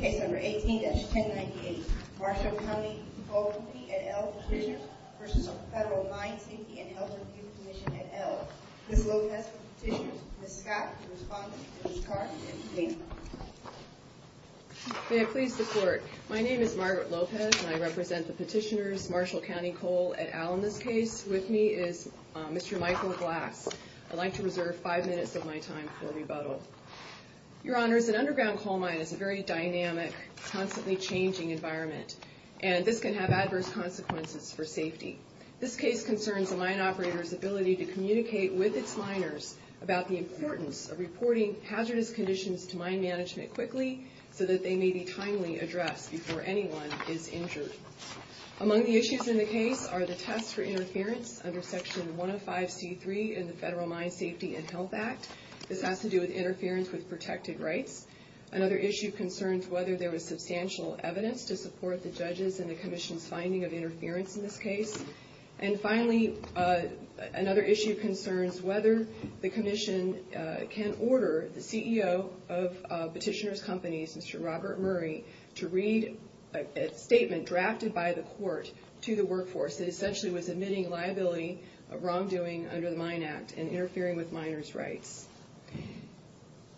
Case number 18-1098 Marshall County Coal Company v. Federal Mine Safety and Health Review Commission Ms. Scott is the respondent and Ms. Clark is the plaintiff. May it please the court. My name is Margaret Lopez and I represent the petitioners Marshall County Coal at Allen. On this case with me is Mr. Michael Glass. I'd like to reserve five minutes of my time for rebuttal. Your Honors, an underground coal mine is a very dynamic, constantly changing environment and this can have adverse consequences for safety. This case concerns a mine operator's ability to communicate with its miners about the importance of reporting hazardous conditions to mine management quickly so that they may be timely addressed before anyone is injured. Among the issues in the case are the test for interference under Section 105C3 in the Federal Mine Safety and Health Act. This has to do with interference with protected rights. Another issue concerns whether there was substantial evidence to support the judges and the Commission's finding of interference in this case. And finally, another issue concerns whether the Commission can order the CEO of petitioner's companies, Mr. Robert Murray, to read a statement drafted by the court to the workforce that essentially was admitting liability of wrongdoing under the Mine Act and interfering with miners' rights.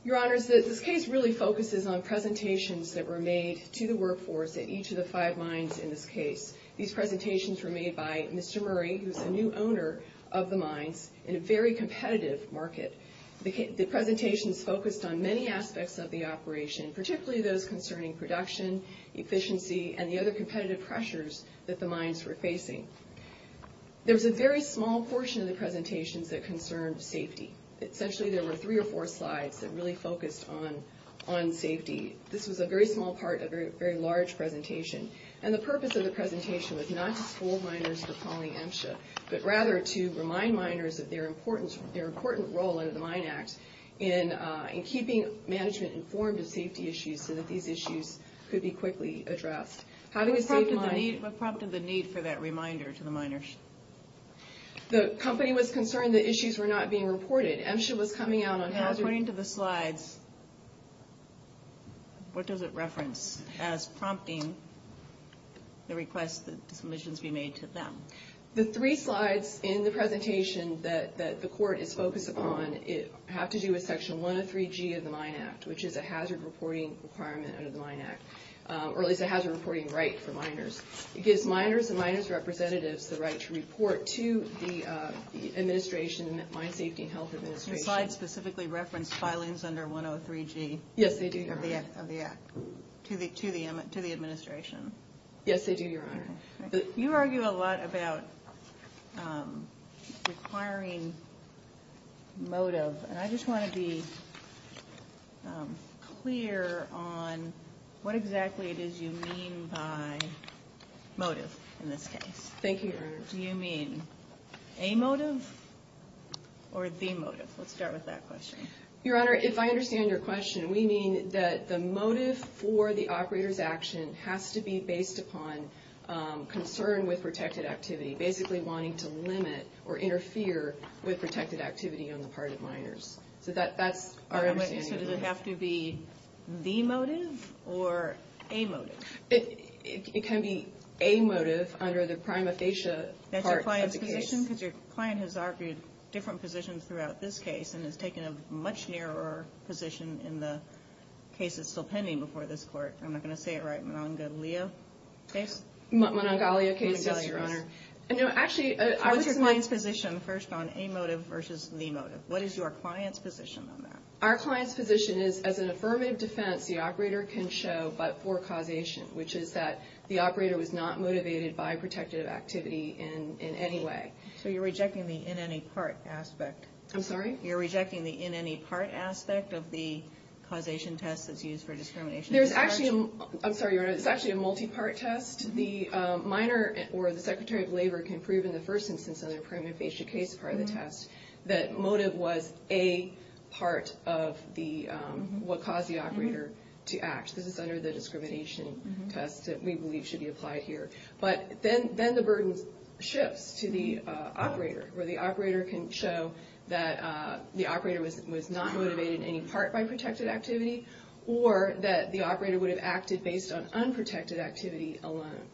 Your Honors, this case really focuses on presentations that were made to the workforce at each of the five mines in this case. These presentations were made by Mr. Murray, who's the new owner of the mines, in a very competitive market. The presentations focused on many aspects of the operation, particularly those concerning production, efficiency, and the other competitive pressures that the mines were facing. There was a very small portion of the presentations that concerned safety. Essentially, there were three or four slides that really focused on safety. This was a very small part of a very large presentation. And the purpose of the presentation was not to fool miners into calling MSHA, but rather to remind miners of their important role under the Mine Act in keeping management informed of safety issues so that these issues could be quickly addressed. Having a safe mine... What prompted the need for that reminder to the miners? The company was concerned that issues were not being reported. MSHA was coming out on... According to the slides, what does it reference as prompting the request that submissions be made to them? The three slides in the presentation that the court is focused upon have to do with Section 103G of the Mine Act, which is a hazard reporting requirement under the Mine Act, or at least a hazard reporting right for miners. It gives miners and miners' representatives the right to report to the administration, the Mine Safety and Health Administration. The slides specifically reference filings under 103G... Yes, they do, Your Honor. ...of the act to the administration. Yes, they do, Your Honor. You argue a lot about requiring motive. And I just want to be clear on what exactly it is you mean by motive in this case. Thank you, Your Honor. Do you mean a motive or the motive? Let's start with that question. Your Honor, if I understand your question, we mean that the motive for the operator's action has to be based upon concern with protected activity, basically wanting to limit or interfere with protected activity on the part of miners. So that's our understanding. So does it have to be the motive or a motive? It can be a motive under the prima facie part of the case. That's your client's position? Because your client has argued different positions throughout this case and has taken a much narrower position in the case that's still pending before this court. I'm not going to say it right, Monongalia case? Monongalia case, yes. Monongalia, Your Honor. No, actually... What's your client's position first on a motive versus the motive? What is your client's position on that? Our client's position is as an affirmative defense, the operator can show but for causation, which is that the operator was not motivated by protected activity in any way. So you're rejecting the in any part aspect? I'm sorry? You're rejecting the in any part aspect of the causation test that's used for discrimination? There's actually a... I'm sorry, Your Honor. It's actually a multi-part test. The miner or the Secretary of Labor can prove in the first instance on their prima facie case part of the test that motive was a part of what caused the operator to act. This is under the discrimination test that we believe should be applied here. But then the burden shifts to the operator, where the operator can show that the operator was not motivated in any part by protected activity or that the operator would have acted based on unprotected activity alone.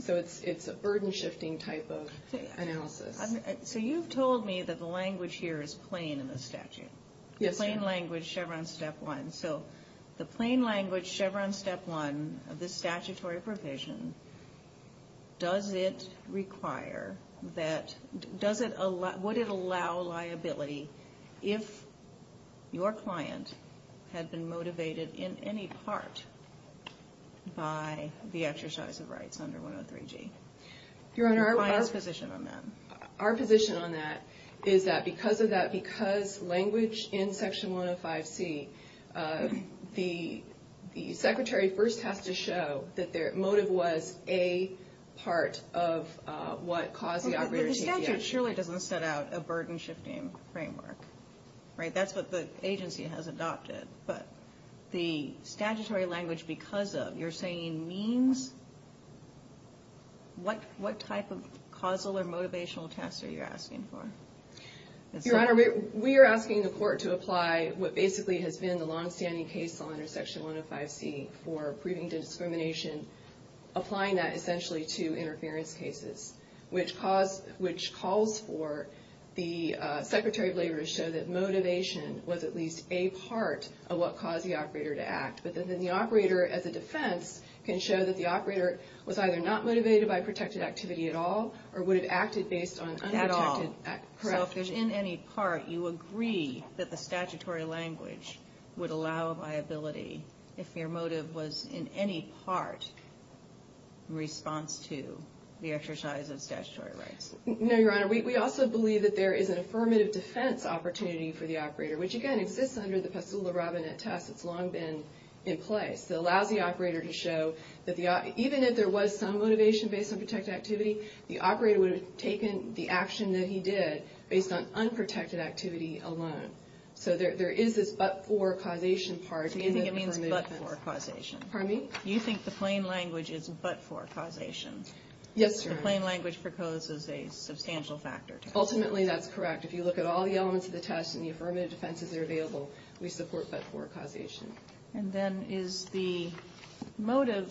So it's a burden-shifting type of analysis. So you've told me that the language here is plain in the statute. Yes, Your Honor. The plain language Chevron Step 1. So the plain language Chevron Step 1 of this statutory provision, does it require that... would it allow liability if your client had been motivated in any part by the exercise of rights under 103G? Your Honor, our... The client's position on that. Our position on that is that because of that, because language in Section 105C, the Secretary first has to show that their motive was a part of what caused the operator to act. But the statute surely doesn't set out a burden-shifting framework, right? That's what the agency has adopted. But the statutory language because of, you're saying means, what type of causal or motivational tests are you asking for? Your Honor, we are asking the court to apply what basically has been the longstanding case law under Section 105C for proving discrimination, applying that essentially to interference cases, which calls for the Secretary of Labor to show that motivation was at least a part of what caused the operator to act. But then the operator as a defense can show that the operator was either not motivated by protected activity at all or would have acted based on unprotected activity. At all. So if there's in any part, you agree that the statutory language would allow liability if your motive was in any part in response to the exercise of statutory rights? No, Your Honor. We also believe that there is an affirmative defense opportunity for the operator, which again exists under the Pestoola-Robinet test. It's long been in place. It allows the operator to show that even if there was some motivation based on protected activity, the operator would have taken the action that he did based on unprotected activity alone. So there is this but-for causation part. Do you think it means but-for causation? Pardon me? Do you think the plain language is but-for causation? Yes, Your Honor. The plain language proposes a substantial factor. Ultimately, that's correct. If you look at all the elements of the test and the affirmative defenses that are available, we support but-for causation. And then is the motive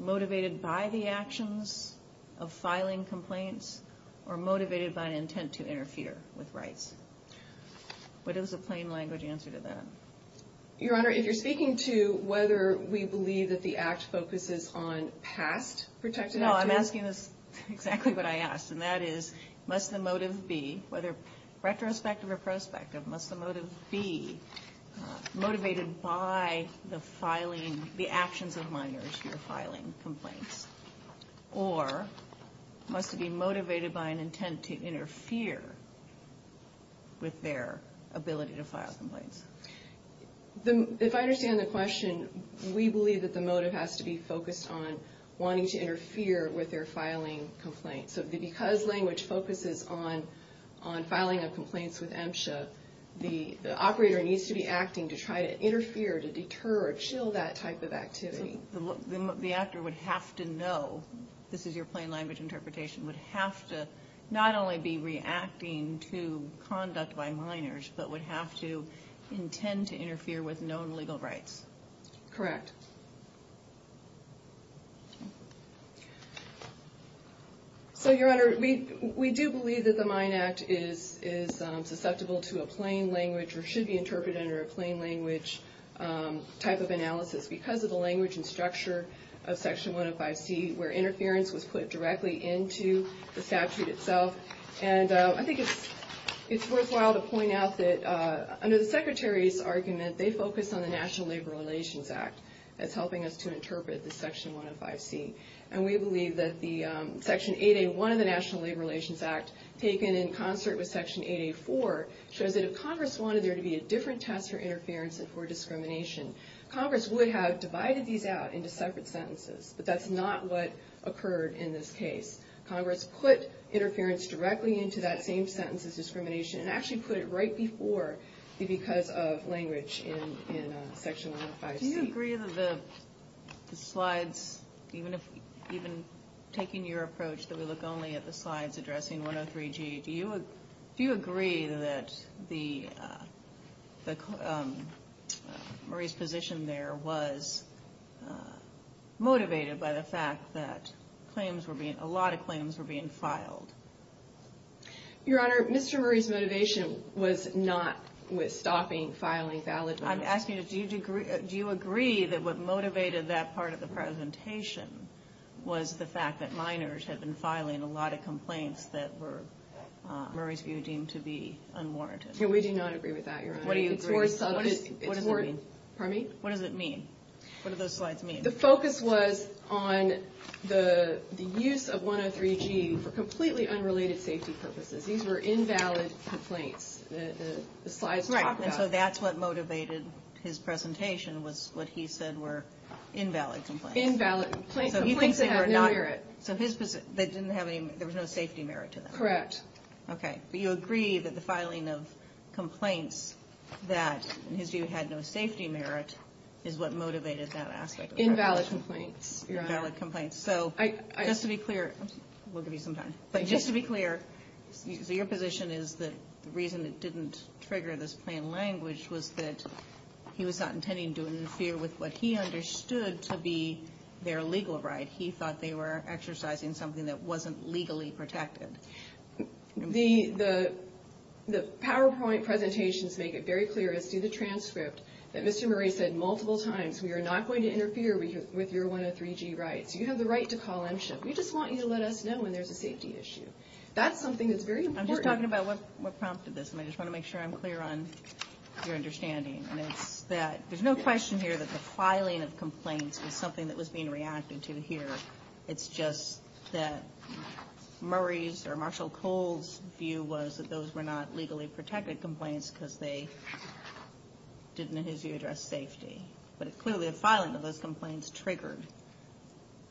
motivated by the actions of filing complaints or motivated by an intent to interfere with rights? What is the plain language answer to that? Your Honor, if you're speaking to whether we believe that the Act focuses on past protected activity? No. I'm asking exactly what I asked, and that is, must the motive be, whether retrospective or prospective, must the motive be motivated by the filing, the actions of minors or must it be motivated by an intent to interfere with their ability to file complaints? If I understand the question, we believe that the motive has to be focused on wanting to interfere with their filing complaints. So because language focuses on filing of complaints with MSHA, the operator needs to be acting to try to interfere, to deter or chill that type of activity. The actor would have to know, this is your plain language interpretation, would have to not only be reacting to conduct by minors, but would have to intend to interfere with known legal rights. Correct. So, Your Honor, we do believe that the Mine Act is susceptible to a plain language or should be interpreted under a plain language type of analysis because of the language and structure of Section 105C, where interference was put directly into the statute itself. And I think it's worthwhile to point out that under the Secretary's argument, they focused on the National Labor Relations Act as helping us to interpret the Section 105C. And we believe that Section 8A1 of the National Labor Relations Act, taken in concert with Section 8A4, shows that if Congress wanted there to be a different test for interference and for discrimination, Congress would have divided these out into separate sentences. But that's not what occurred in this case. Congress put interference directly into that same sentence as discrimination and actually put it right before the because of language in Section 105C. Do you agree that the slides, even taking your approach that we look only at the slides addressing 103G, do you agree that Marie's position there was motivated by the fact that a lot of claims were being filed? Your Honor, Mr. Marie's motivation was not with stopping filing valid claims. I'm asking you, do you agree that what motivated that part of the presentation was the fact that minors had been filing a lot of complaints that were, in Marie's view, deemed to be unwarranted? We do not agree with that, Your Honor. What does it mean? What do those slides mean? The focus was on the use of 103G for completely unrelated safety purposes. These were invalid complaints. Right, and so that's what motivated his presentation was what he said were invalid complaints. Invalid complaints that had no merit. So there was no safety merit to that? Correct. Okay. But you agree that the filing of complaints that, in his view, had no safety merit is what motivated that aspect of the presentation? Invalid complaints, Your Honor. Invalid complaints. So just to be clear, we'll give you some time. But just to be clear, so your position is that the reason it didn't trigger this plain language was that he was not intending to interfere with what he understood to be their legal right. He thought they were exercising something that wasn't legally protected. The PowerPoint presentations make it very clear, as do the transcript, that Mr. Marie said multiple times, we are not going to interfere with your 103G rights. You have the right to call MCHIP. We just want you to let us know when there's a safety issue. That's something that's very important. I'm just talking about what prompted this, and I just want to make sure I'm clear on your understanding. And it's that there's no question here that the filing of complaints was something that was being reacted to here. It's just that Murray's or Marshall Cole's view was that those were not legally protected complaints because they didn't, in his view, address safety. But clearly, the filing of those complaints triggered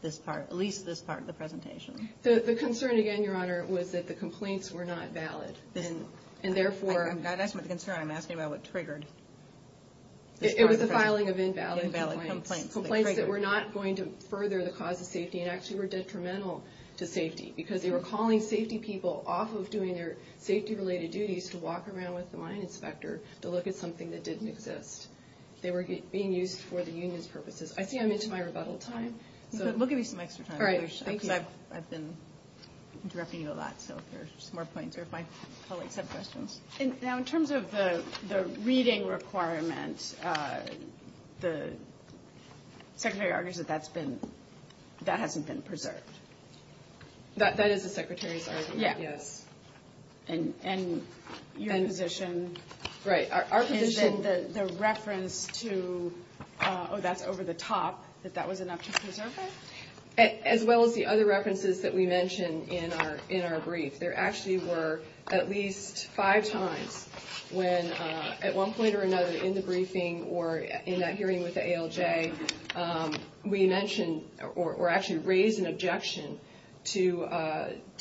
this part, at least this part of the presentation. The concern, again, Your Honor, was that the complaints were not valid. And therefore— I'm not asking about the concern. I'm asking about what triggered. It was the filing of invalid complaints. Invalid complaints. Complaints that were not going to further the cause of safety and actually were detrimental to safety because they were calling safety people off of doing their safety-related duties to walk around with the mine inspector to look at something that didn't exist. They were being used for the union's purposes. I see I'm into my rebuttal time, so— We'll give you some extra time. All right. Thank you. Because I've been interrupting you a lot, so if there's more points or if my colleagues have questions. Now, in terms of the reading requirement, the Secretary argues that that's been—that hasn't been preserved. That is the Secretary's argument? Yeah. Yes. And your position— Right. Our position— And then the reference to, oh, that's over the top, that that was enough to preserve it? As well as the other references that we mentioned in our brief. There actually were at least five times when at one point or another in the briefing or in that hearing with the ALJ, we mentioned or actually raised an objection to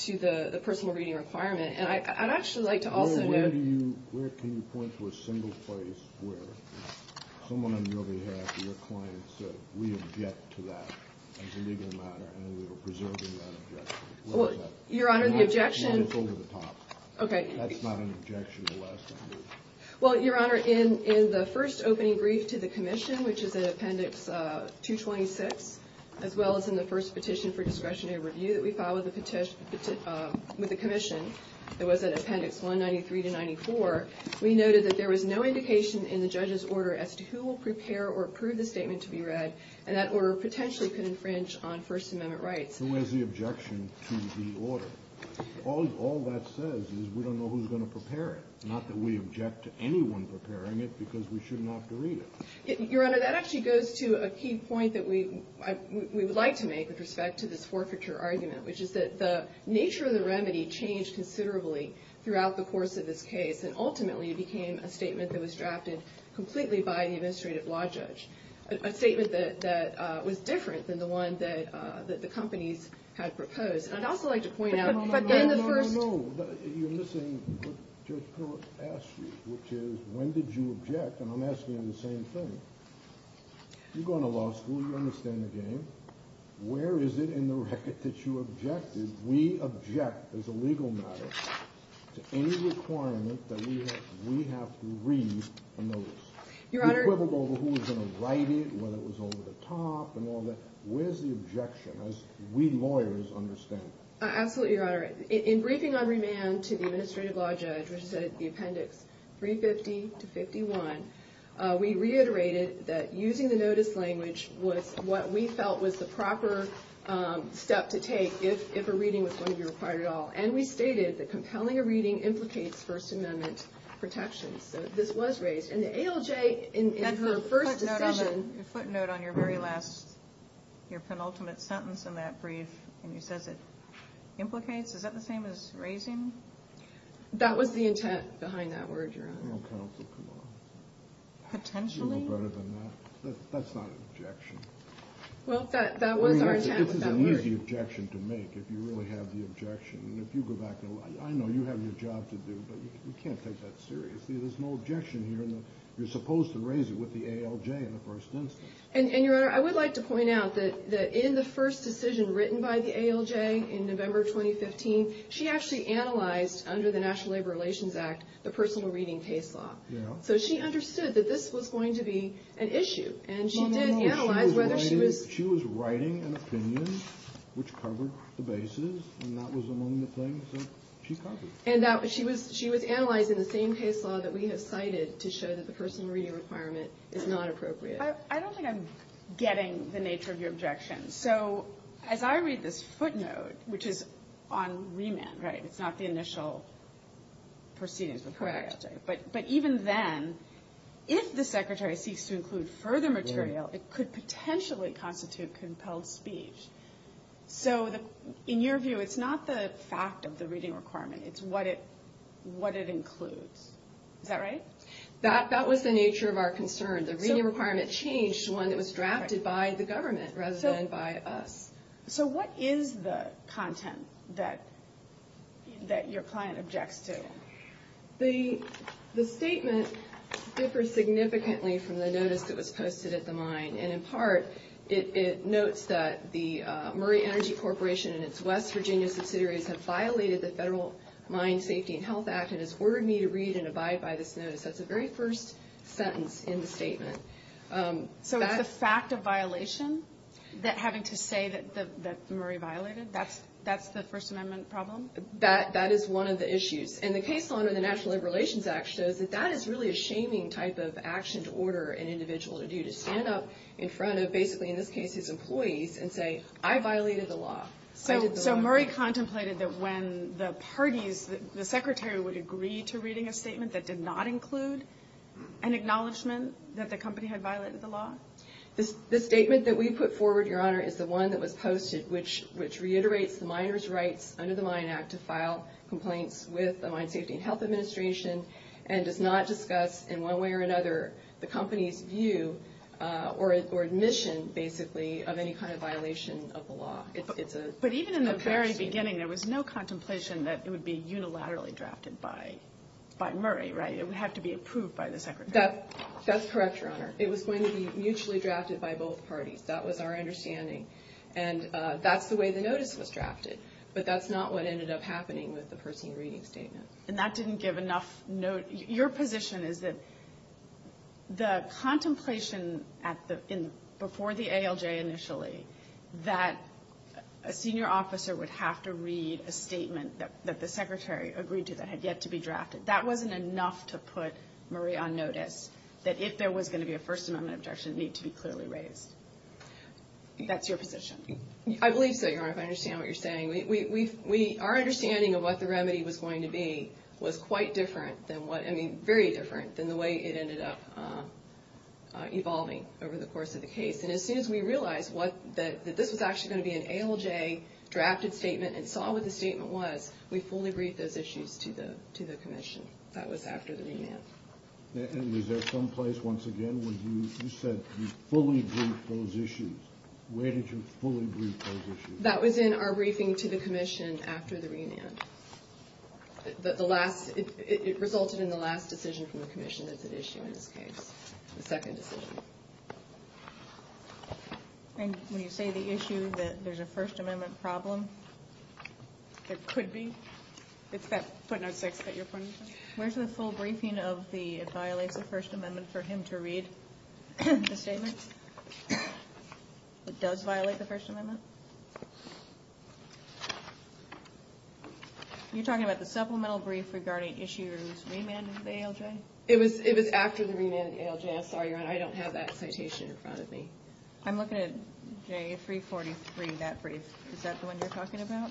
the personal reading requirement. And I'd actually like to also note— There was a single place where someone on your behalf or your client said, we object to that as a legal matter, and we were preserving that objection. What was that? Your Honor, the objection— Well, it's over the top. Okay. That's not an objection, alas. Well, Your Honor, in the first opening brief to the Commission, which is in Appendix 226, as well as in the first petition for discretionary review that we filed with the Commission, it was in Appendix 193 to 94, we noted that there was no indication in the judge's order as to who will prepare or approve the statement to be read, and that order potentially could infringe on First Amendment rights. Who has the objection to the order? All that says is we don't know who's going to prepare it, not that we object to anyone preparing it because we shouldn't have to read it. Your Honor, that actually goes to a key point that we would like to make with respect to this forfeiture argument, which is that the nature of the remedy changed considerably throughout the course of this case, and ultimately it became a statement that was drafted completely by the administrative law judge, a statement that was different than the one that the companies had proposed. And I'd also like to point out— But then the first— No, no, no, no, no. You're missing what Judge Peralta asked you, which is when did you object? And I'm asking you the same thing. You go into law school. You understand the game. Where is it in the record that you objected? We object, as a legal matter, to any requirement that we have to read a notice. Your Honor— Equivalent to who was going to write it, whether it was over the top and all that. Where's the objection, as we lawyers understand it? Absolutely, Your Honor. In briefing on remand to the administrative law judge, which is at the appendix 350 to 51, we reiterated that using the notice language was what we felt was the proper step to take if a reading was going to be required at all. And we stated that compelling a reading implicates First Amendment protections. So this was raised. And the ALJ, in her first decision— And her footnote on your very last, your penultimate sentence in that brief, when she says it implicates, is that the same as raising? That was the intent behind that word, Your Honor. Well, counsel, come on. Potentially? You know better than that. That's not an objection. Well, that was our intent with that word. I mean, this is an easy objection to make if you really have the objection. And if you go back and look, I know you have your job to do, but you can't take that seriously. There's no objection here. You're supposed to raise it with the ALJ in the first instance. And, Your Honor, I would like to point out that in the first decision written by the ALJ in November 2015, she actually analyzed, under the National Labor Relations Act, the personal reading case law. So she understood that this was going to be an issue. And she did analyze whether she was— Well, no, no. She was writing an opinion which covered the basis, and that was among the things that she covered. And she was analyzing the same case law that we have cited to show that the personal reading requirement is not appropriate. I don't think I'm getting the nature of your objection. So as I read this footnote, which is on remand, right? It's not the initial proceedings. Correct. But even then, if the Secretary seeks to include further material, it could potentially constitute compelled speech. So in your view, it's not the fact of the reading requirement. It's what it includes. Is that right? That was the nature of our concern. The reading requirement changed to one that was drafted by the government rather than by us. So what is the content that your client objects to? The statement differs significantly from the notice that was posted at the mine. And in part, it notes that the Murray Energy Corporation and its West Virginia subsidiaries have violated the Federal Mine Safety and Health Act and has ordered me to read and abide by this notice. That's the very first sentence in the statement. So it's the fact of violation that having to say that Murray violated? That's the First Amendment problem? That is one of the issues. And the case law under the National Labor Relations Act shows that that is really a shaming type of action to order an individual to do, to stand up in front of basically, in this case, his employees and say, I violated the law. So Murray contemplated that when the parties, the secretary would agree to reading a statement that did not include an acknowledgment that the company had violated the law? The statement that we put forward, Your Honor, is the one that was posted, which reiterates the miners' rights under the Mine Act to file complaints with the Mine Safety and Health Administration and does not discuss in one way or another the company's view or admission, basically, of any kind of violation of the law. But even in the very beginning, there was no contemplation that it would be unilaterally drafted by Murray, right? It would have to be approved by the secretary. That's correct, Your Honor. It was going to be mutually drafted by both parties. That was our understanding. And that's the way the notice was drafted. But that's not what ended up happening with the person reading the statement. And that didn't give enough note. Your position is that the contemplation at the end, before the ALJ initially, that a senior officer would have to read a statement that the secretary agreed to that had yet to be drafted, that wasn't enough to put Murray on notice that if there was going to be a First Amendment objection, it needed to be clearly raised. That's your position. I believe so, Your Honor, if I understand what you're saying. Our understanding of what the remedy was going to be was quite different than what, I mean, very different than the way it ended up evolving over the course of the case. And as soon as we realized that this was actually going to be an ALJ-drafted statement and saw what the statement was, we fully briefed those issues to the commission. That was after the remand. And was there some place, once again, where you said you fully briefed those issues? Where did you fully brief those issues? That was in our briefing to the commission after the remand. It resulted in the last decision from the commission that's at issue in this case, the second decision. And when you say the issue, that there's a First Amendment problem? There could be. It's that footnote 6 that you're pointing to? Where's the full briefing of the, it violates the First Amendment for him to read the statement? It does violate the First Amendment? You're talking about the supplemental brief regarding issues remanded in the ALJ? It was after the remand in the ALJ. I'm sorry, Your Honor. I don't have that citation in front of me. I'm looking at J343, that brief. Is that the one you're talking about?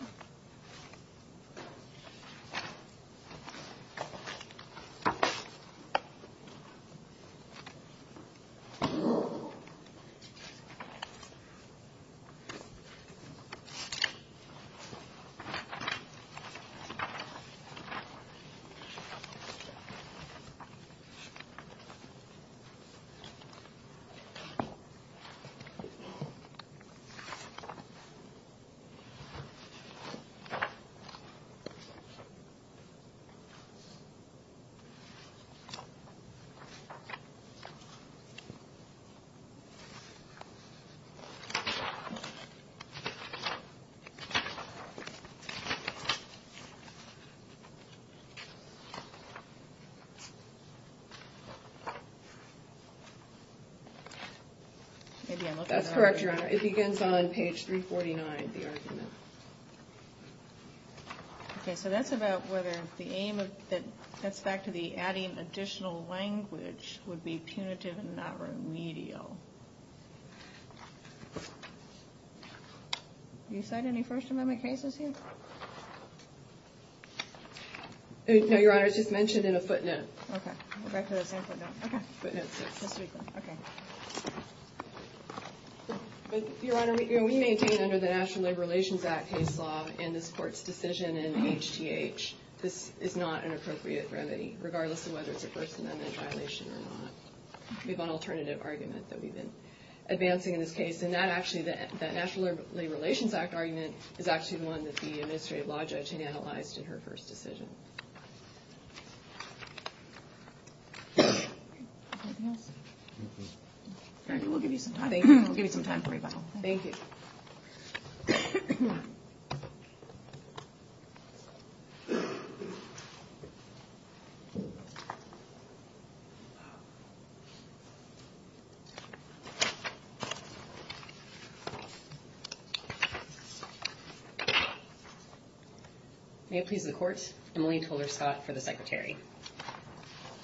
That's correct, Your Honor. It begins on page 349, the argument. Okay, so that's about whether the aim of, that's back to the adding additional language would be punitive and not remedial. You cite any First Amendment cases here? No, Your Honor, it's just mentioned in a footnote. Your Honor, we maintain under the National Labor Relations Act case law in this Court's decision in HTH, this is not an appropriate remedy, regardless of whether it's a First Amendment violation or not. We have an alternative argument that we've been advancing in this case, and that actually, that National Labor Relations Act argument is actually the one that the administrative law judge had analyzed in her first decision. We'll give you some time. Thank you. May it please the Court, Emily Toler-Scott for the Secretary.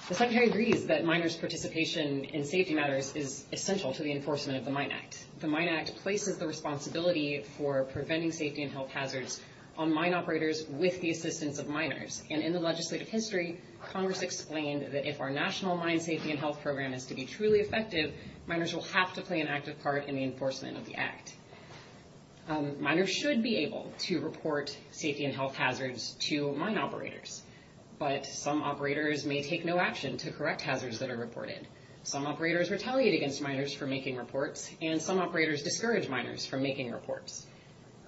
The Secretary agrees that miners' participation in safety matters is essential to the enforcement of the Mine Act. The Mine Act places the responsibility for preventing safety and health hazards on mine operators with the assistance of miners. And in the legislative history, Congress explained that if our national mine safety and health program is to be truly effective, miners will have to play an active part in the enforcement of the Act. Miners should be able to report safety and health hazards to mine operators. But some operators may take no action to correct hazards that are reported. Some operators retaliate against miners for making reports, and some operators discourage miners from making reports.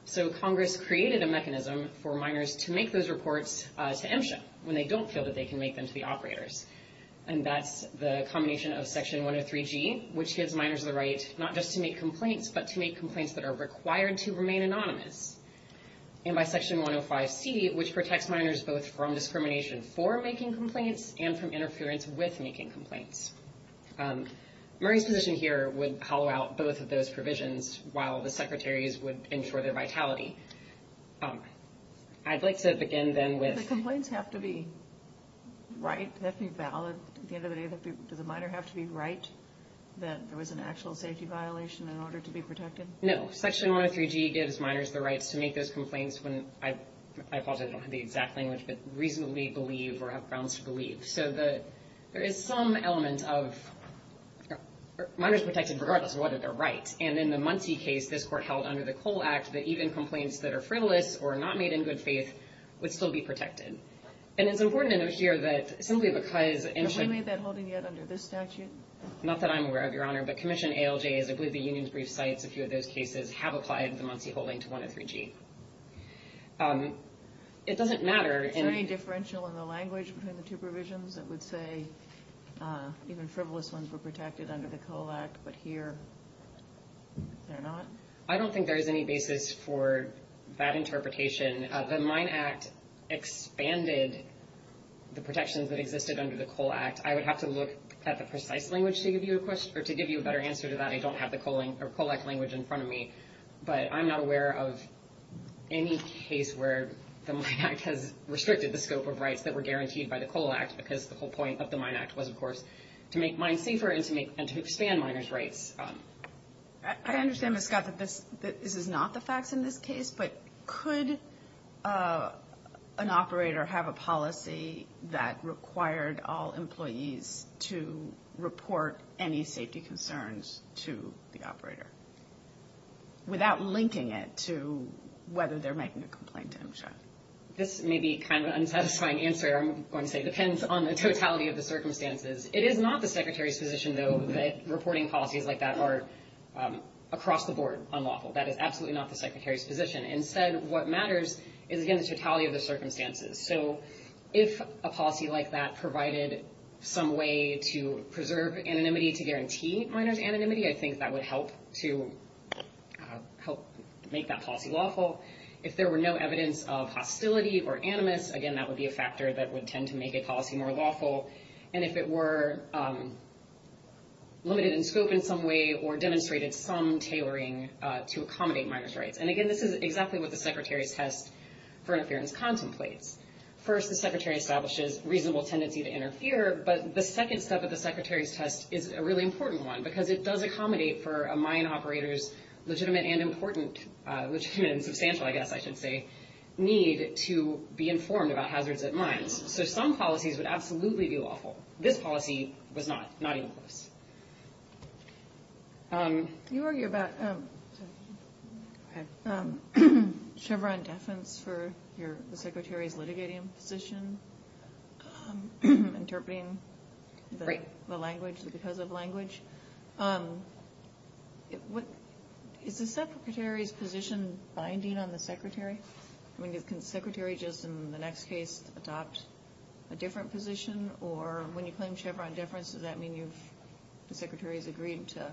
So Congress created a mechanism for miners to make those reports to MSHA when they don't feel that they can make them to the operators. And that's the combination of Section 103G, which gives miners the right not just to make complaints, but to make complaints that are required to remain anonymous. And by Section 105C, which protects miners both from discrimination for making complaints and from interference with making complaints. Murray's position here would hollow out both of those provisions, while the Secretary's would ensure their vitality. I'd like to begin then with... The complaints have to be right, they have to be valid. At the end of the day, does a miner have to be right that there was an actual safety violation in order to be protected? No. Section 103G gives miners the rights to make those complaints when, I apologize, I don't have the exact language, but reasonably believe or have grounds to believe. So there is some element of miners protected regardless of whether they're right. And in the Muncie case, this court held under the Cole Act that even complaints that are frivolous or not made in good faith would still be protected. And it's important to note here that simply because MSHA... Have we made that holding yet under this statute? Not that I'm aware of, Your Honor, but Commission ALJs, I believe the union's brief cites a few of those cases, have applied the Muncie holding to 103G. It doesn't matter... Is there any differential in the language between the two provisions that would say even frivolous ones were protected under the Cole Act, but here they're not? I don't think there is any basis for that interpretation. The Mine Act expanded the protections that existed under the Cole Act. I would have to look at the precise language to give you a better answer to that. I don't have the Cole Act language in front of me, but I'm not aware of any case where the Mine Act has restricted the scope of rights that were guaranteed by the Cole Act because the whole point of the Mine Act was, of course, to make mines safer and to expand miners' rights. I understand, Ms. Scott, that this is not the facts in this case, but could an operator have a policy that required all employees to report any safety concerns to the operator without linking it to whether they're making a complaint to MSHA? This may be kind of an unsatisfying answer, I'm going to say. It depends on the totality of the circumstances. It is not the Secretary's position, though, that reporting policies like that are across the board unlawful. That is absolutely not the Secretary's position. Instead, what matters is, again, the totality of the circumstances. If a policy like that provided some way to preserve anonymity, to guarantee miners' anonymity, I think that would help to make that policy lawful. If there were no evidence of hostility or animus, again, that would be a factor that would tend to make a policy more lawful. And if it were limited in scope in some way or demonstrated some tailoring to accommodate miners' rights. And again, this is exactly what the Secretary's test for interference contemplates. First, the Secretary establishes reasonable tendency to interfere, but the second step of the Secretary's test is a really important one, because it does accommodate for a mine operator's legitimate and important, legitimate and substantial, I guess I should say, need to be informed about hazards at mines. So some policies would absolutely be lawful. This policy was not, not even close. You argue about Chevron deference for the Secretary's litigating position, interpreting the language because of language. I mean, can the Secretary just in the next case adopt a different position? Or when you claim Chevron deference, does that mean you've, the Secretary has agreed to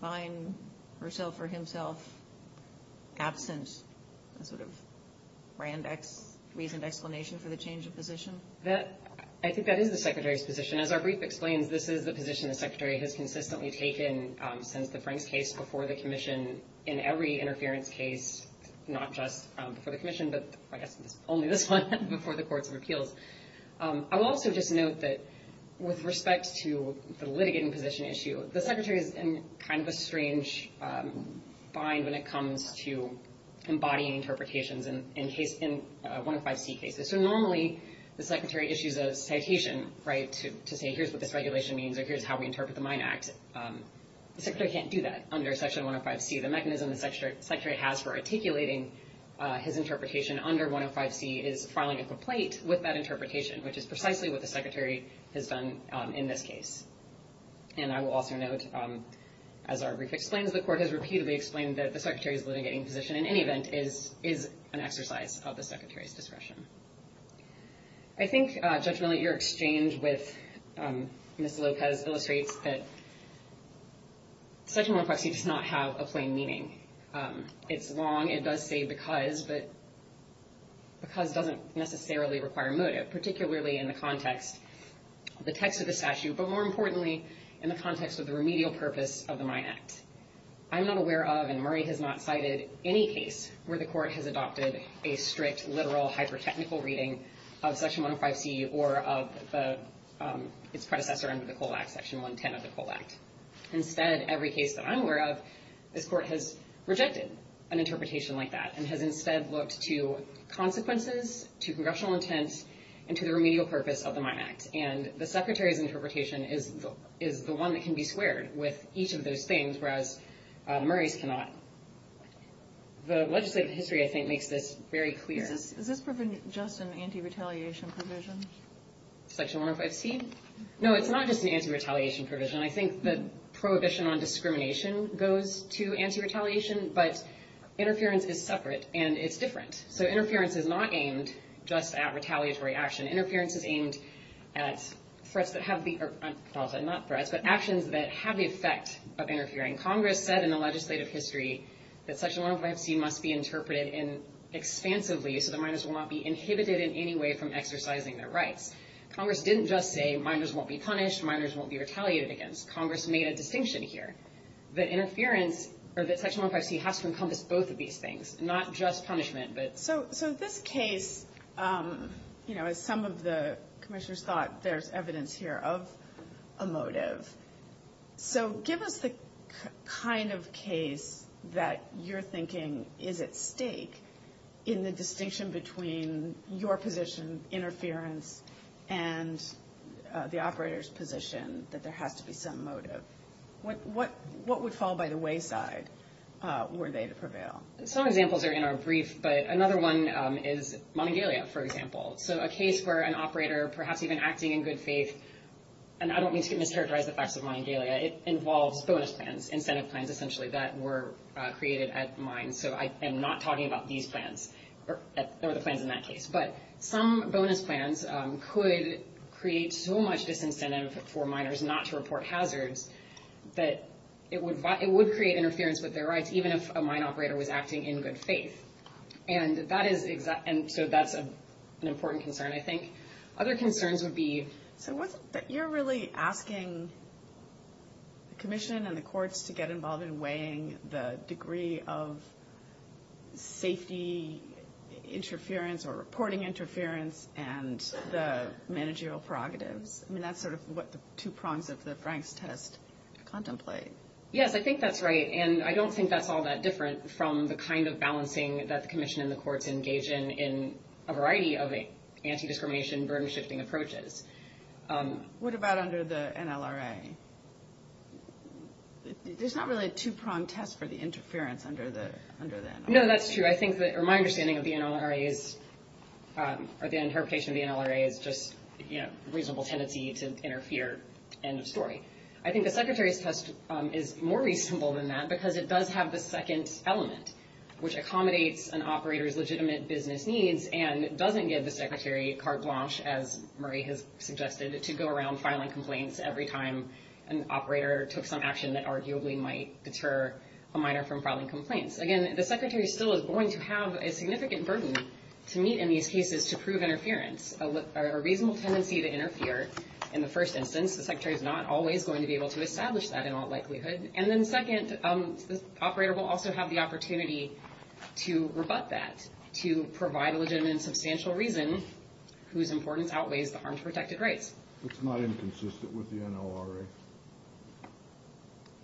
find herself or himself absent, a sort of grand reasoned explanation for the change of position? I think that is the Secretary's position. As our brief explains, this is the position the Secretary has consistently taken since the Franks case, before the commission in every interference case, not just before the commission, but I guess only this one before the courts of appeals. I will also just note that with respect to the litigating position issue, the Secretary is in kind of a strange bind when it comes to embodying interpretations in one of five C cases. So normally the Secretary issues a citation to say here's what this regulation means or here's how we interpret the Mine Act. But the Secretary can't do that under Section 105C. The mechanism the Secretary has for articulating his interpretation under 105C is filing a complaint with that interpretation, which is precisely what the Secretary has done in this case. And I will also note, as our brief explains, the court has repeatedly explained that the Secretary's litigating position, in any event, is an exercise of the Secretary's discretion. I think, Judge Millett, your exchange with Ms. Lopez illustrates that Section 105C does not have a plain meaning. It's long. It does say because, but because doesn't necessarily require motive, particularly in the context of the text of the statute, but more importantly in the context of the remedial purpose of the Mine Act. I'm not aware of, and Murray has not cited, any case where the court has adopted a strict, literal, hyper-technical reading of Section 105C or of its predecessor under the COLA Act, Section 110 of the COLA Act. Instead, every case that I'm aware of, this court has rejected an interpretation like that and has instead looked to consequences, to congressional intent, and to the remedial purpose of the Mine Act. And the Secretary's interpretation is the one that can be squared with each of those things, whereas Murray's cannot. The legislative history, I think, makes this very clear. Is this provision just an anti-retaliation provision? Section 105C? No, it's not just an anti-retaliation provision. I think the prohibition on discrimination goes to anti-retaliation, but interference is separate and it's different. So interference is not aimed just at retaliatory action. Interference is aimed at threats that have the effect of interfering. Congress said in the legislative history that Section 105C must be interpreted expansively so that minors will not be inhibited in any way from exercising their rights. Congress didn't just say minors won't be punished, minors won't be retaliated against. Congress made a distinction here that interference, or that Section 105C, has to encompass both of these things, not just punishment. So this case, as some of the commissioners thought, there's evidence here of a motive. So give us the kind of case that you're thinking is at stake in the distinction between your position, interference, and the operator's position that there has to be some motive. What would fall by the wayside were they to prevail? Some examples are in our brief, but another one is Monongalia, for example. So a case where an operator, perhaps even acting in good faith, and I don't mean to mischaracterize the facts of Monongalia, it involves bonus plans, incentive plans essentially that were created at the mine. So I am not talking about these plans or the plans in that case. But some bonus plans could create so much disincentive for minors not to report hazards that it would create interference with their rights, even if a mine operator was acting in good faith. And so that's an important concern. I think other concerns would be... So you're really asking the commission and the courts to get involved in weighing the degree of safety interference or reporting interference and the managerial prerogatives. I mean, that's sort of what the two prongs of the Franks test contemplate. Yes, I think that's right. And I don't think that's all that different from the kind of balancing that the commission and the courts engage in in a variety of anti-discrimination burden-shifting approaches. What about under the NLRA? There's not really a two-prong test for the interference under the NLRA. No, that's true. But I think that, or my understanding of the NLRA is, or the interpretation of the NLRA is just reasonable tendency to interfere. End of story. I think the Secretary's test is more reasonable than that because it does have the second element, which accommodates an operator's legitimate business needs and doesn't give the Secretary carte blanche, as Murray has suggested, to go around filing complaints every time an operator took some action that arguably might deter a minor from filing complaints. Again, the Secretary still is going to have a significant burden to meet in these cases to prove interference, a reasonable tendency to interfere in the first instance. The Secretary's not always going to be able to establish that in all likelihood. And then second, the operator will also have the opportunity to rebut that, to provide a legitimate and substantial reason whose importance outweighs the harm to protected rights. It's not inconsistent with the NLRA.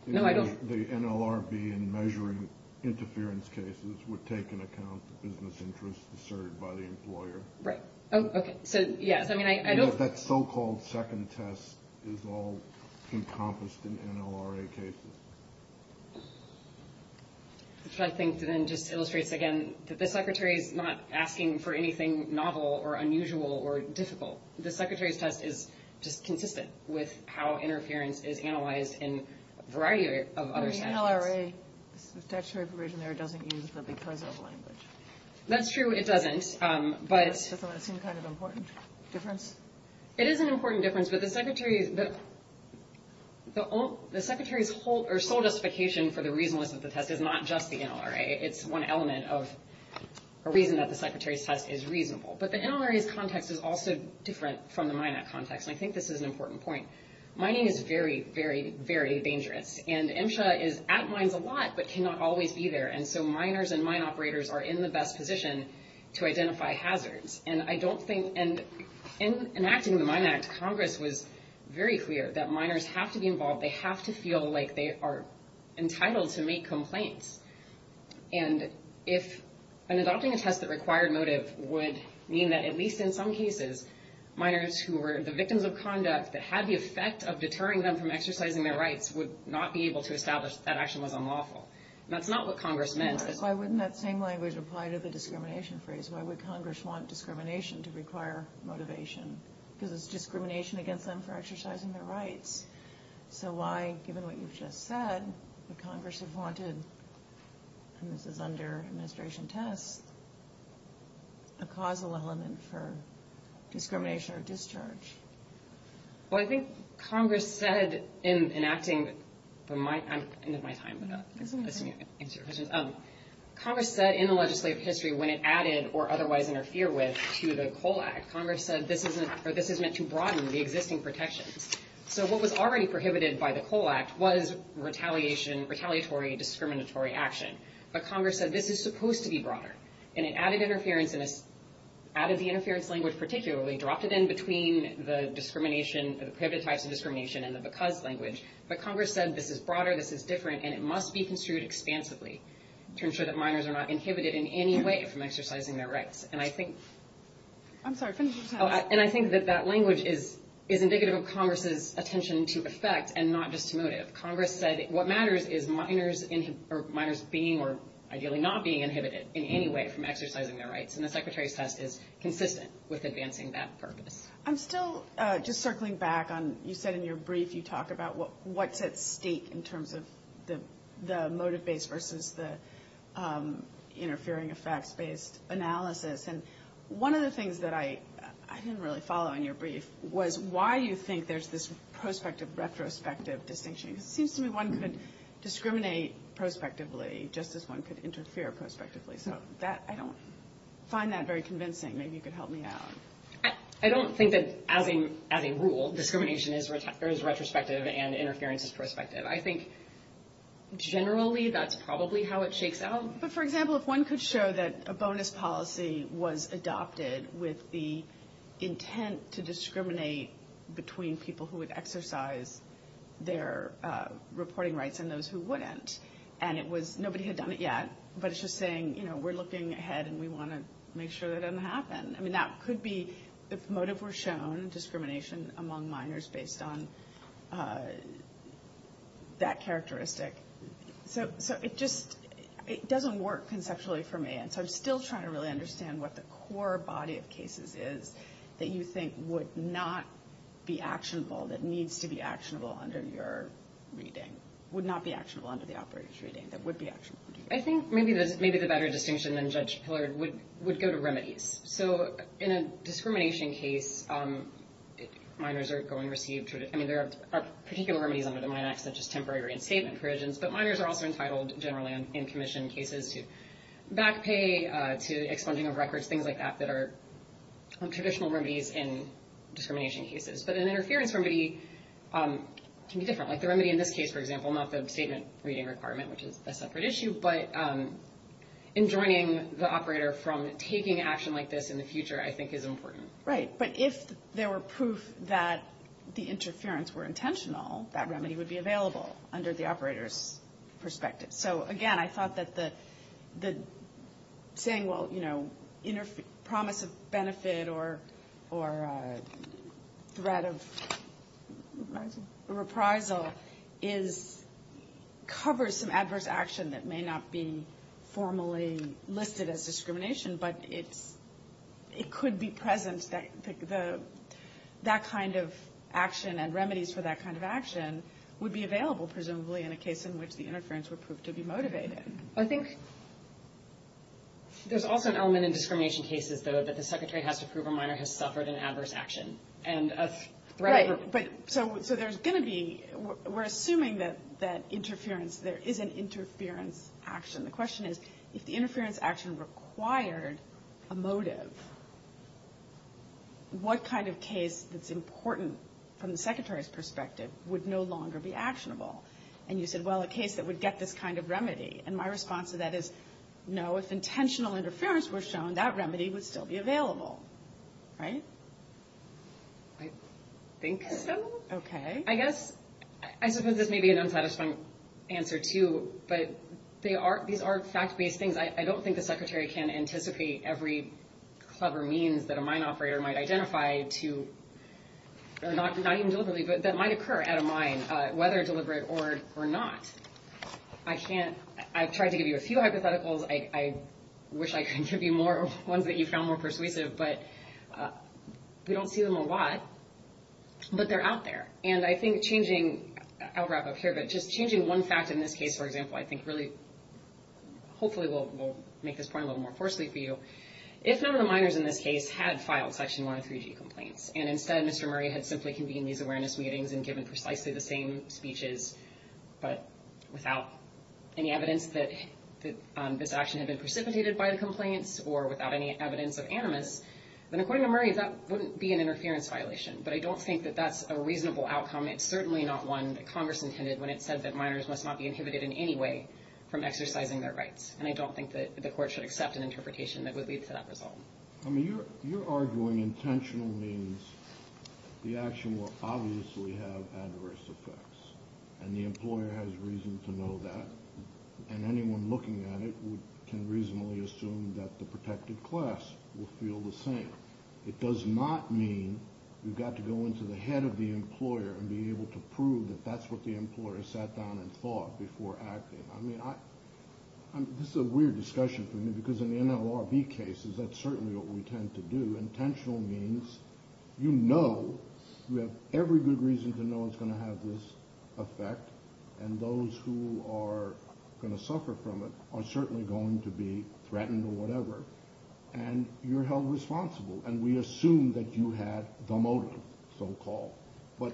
No, I don't. The NLRB in measuring interference cases would take into account the business interests asserted by the employer. Right. Oh, okay. So, yes, I mean, I don't. That so-called second test is all encompassed in NLRA cases. Which I think then just illustrates again that the Secretary is not asking for anything novel or unusual or difficult. The Secretary's test is just consistent with how interference is analyzed in a variety of other standards. But the NLRA statutory provision there doesn't use the because of language. That's true. It doesn't. Doesn't that seem kind of an important difference? It is an important difference. But the Secretary's sole justification for the reasonableness of the test is not just the NLRA. It's one element of a reason that the Secretary's test is reasonable. But the NLRA's context is also different from the Mine Act context. And I think this is an important point. Mining is very, very, very dangerous. And MSHA is at mines a lot but cannot always be there. And so miners and mine operators are in the best position to identify hazards. And I don't think – and in enacting the Mine Act, Congress was very clear that miners have to be involved. They have to feel like they are entitled to make complaints. And if – and adopting a test that required motive would mean that, at least in some cases, miners who were the victims of conduct that had the effect of deterring them from exercising their rights would not be able to establish that that action was unlawful. And that's not what Congress meant. Why wouldn't that same language apply to the discrimination phrase? Why would Congress want discrimination to require motivation? Because it's discrimination against them for exercising their rights. So why, given what you've just said, would Congress have wanted – and this is under administration tests – a causal element for discrimination or discharge? Well, I think Congress said in enacting the Mine Act – I'm at the end of my time. Congress said in the legislative history when it added or otherwise interfered with to the Coal Act, Congress said this is meant to broaden the existing protections. So what was already prohibited by the Coal Act was retaliation – retaliatory, discriminatory action. But Congress said this is supposed to be broader. And it added interference and added the interference language particularly, dropped it in between the discrimination – the prohibited types of discrimination and the because language. But Congress said this is broader, this is different, and it must be construed expansively to ensure that miners are not inhibited in any way from exercising their rights. And I think – I'm sorry, finish your test. And I think that that language is indicative of Congress's attention to effect and not just to motive. Congress said what matters is miners being or ideally not being inhibited in any way from exercising their rights. And the Secretary's test is consistent with advancing that purpose. I'm still just circling back on – you said in your brief you talk about what's at stake in terms of the motive-based versus the interfering effects-based analysis. And one of the things that I didn't really follow in your brief was why you think there's this prospective-retrospective distinction. It seems to me one could discriminate prospectively just as one could interfere prospectively. So that – I don't find that very convincing. Maybe you could help me out. I don't think that as a rule, discrimination is retrospective and interference is prospective. I think generally that's probably how it shakes out. But, for example, if one could show that a bonus policy was adopted with the intent to discriminate between people who would exercise their reporting rights and those who wouldn't, and it was – nobody had done it yet, but it's just saying, you know, we're looking ahead and we want to make sure that doesn't happen. I mean, that could be – if motive were shown, discrimination among miners based on that characteristic. So it just – it doesn't work conceptually for me. And so I'm still trying to really understand what the core body of cases is that you think would not be actionable, that needs to be actionable under your reading, would not be actionable under the operator's reading, that would be actionable. I think maybe the better distinction than Judge Pillard would go to remedies. So in a discrimination case, miners are going to receive – I mean, there are particular remedies under the Mine Act such as temporary reinstatement provisions, but miners are also entitled generally in commission cases to back pay, to expunging of records, things like that that are traditional remedies in discrimination cases. But an interference remedy can be different. Like the remedy in this case, for example, not the statement reading requirement, which is a separate issue, but enjoining the operator from taking action like this in the future I think is important. Right. But if there were proof that the interference were intentional, that remedy would be available under the operator's perspective. So, again, I thought that the – saying, well, you know, promise of benefit or threat of reprisal is – covers some adverse action that may not be formally listed as discrimination, but it could be present – that kind of action and remedies for that kind of action would be available, presumably, in a case in which the interference would prove to be motivated. I think there's also an element in discrimination cases, though, that the secretary has to prove a miner has suffered an adverse action and a threat of – Right, but – so there's going to be – we're assuming that interference – there is an interference action. The question is, if the interference action required a motive, what kind of case that's important from the secretary's perspective would no longer be actionable? And you said, well, a case that would get this kind of remedy. And my response to that is, no, if intentional interference were shown, that remedy would still be available. Right? I think so. Okay. I guess – I suppose this may be an unsatisfying answer, too, but they are – these are fact-based things. I don't think the secretary can anticipate every clever means that a mine operator might identify to – or not even deliberately, but that might occur at a mine, whether deliberate or not. I can't – I've tried to give you a few hypotheticals. I wish I could give you more ones that you found more persuasive, but we don't see them a lot, but they're out there. And I think changing – I'll wrap up here, but just changing one fact in this case, for example, I think really – hopefully we'll make this point a little more coarsely for you. If none of the miners in this case had filed Section 103G complaints, and instead Mr. Murray had simply convened these awareness meetings and given precisely the same speeches, but without any evidence that this action had been precipitated by the complaints or without any evidence of animus, then according to Murray, that wouldn't be an interference violation. But I don't think that that's a reasonable outcome. It's certainly not one that Congress intended when it said that miners must not be inhibited in any way from exercising their rights. And I don't think that the court should accept an interpretation that would lead to that result. I mean, you're arguing intentional means the action will obviously have adverse effects. And the employer has reason to know that. And anyone looking at it can reasonably assume that the protected class will feel the same. It does not mean you've got to go into the head of the employer and be able to prove that that's what the employer sat down and thought before acting. I mean, this is a weird discussion for me because in the NLRB cases, that's certainly what we tend to do. Intentional means you know, you have every good reason to know it's going to have this effect, and those who are going to suffer from it are certainly going to be threatened or whatever. And you're held responsible. And we assume that you had the motive, so-called. But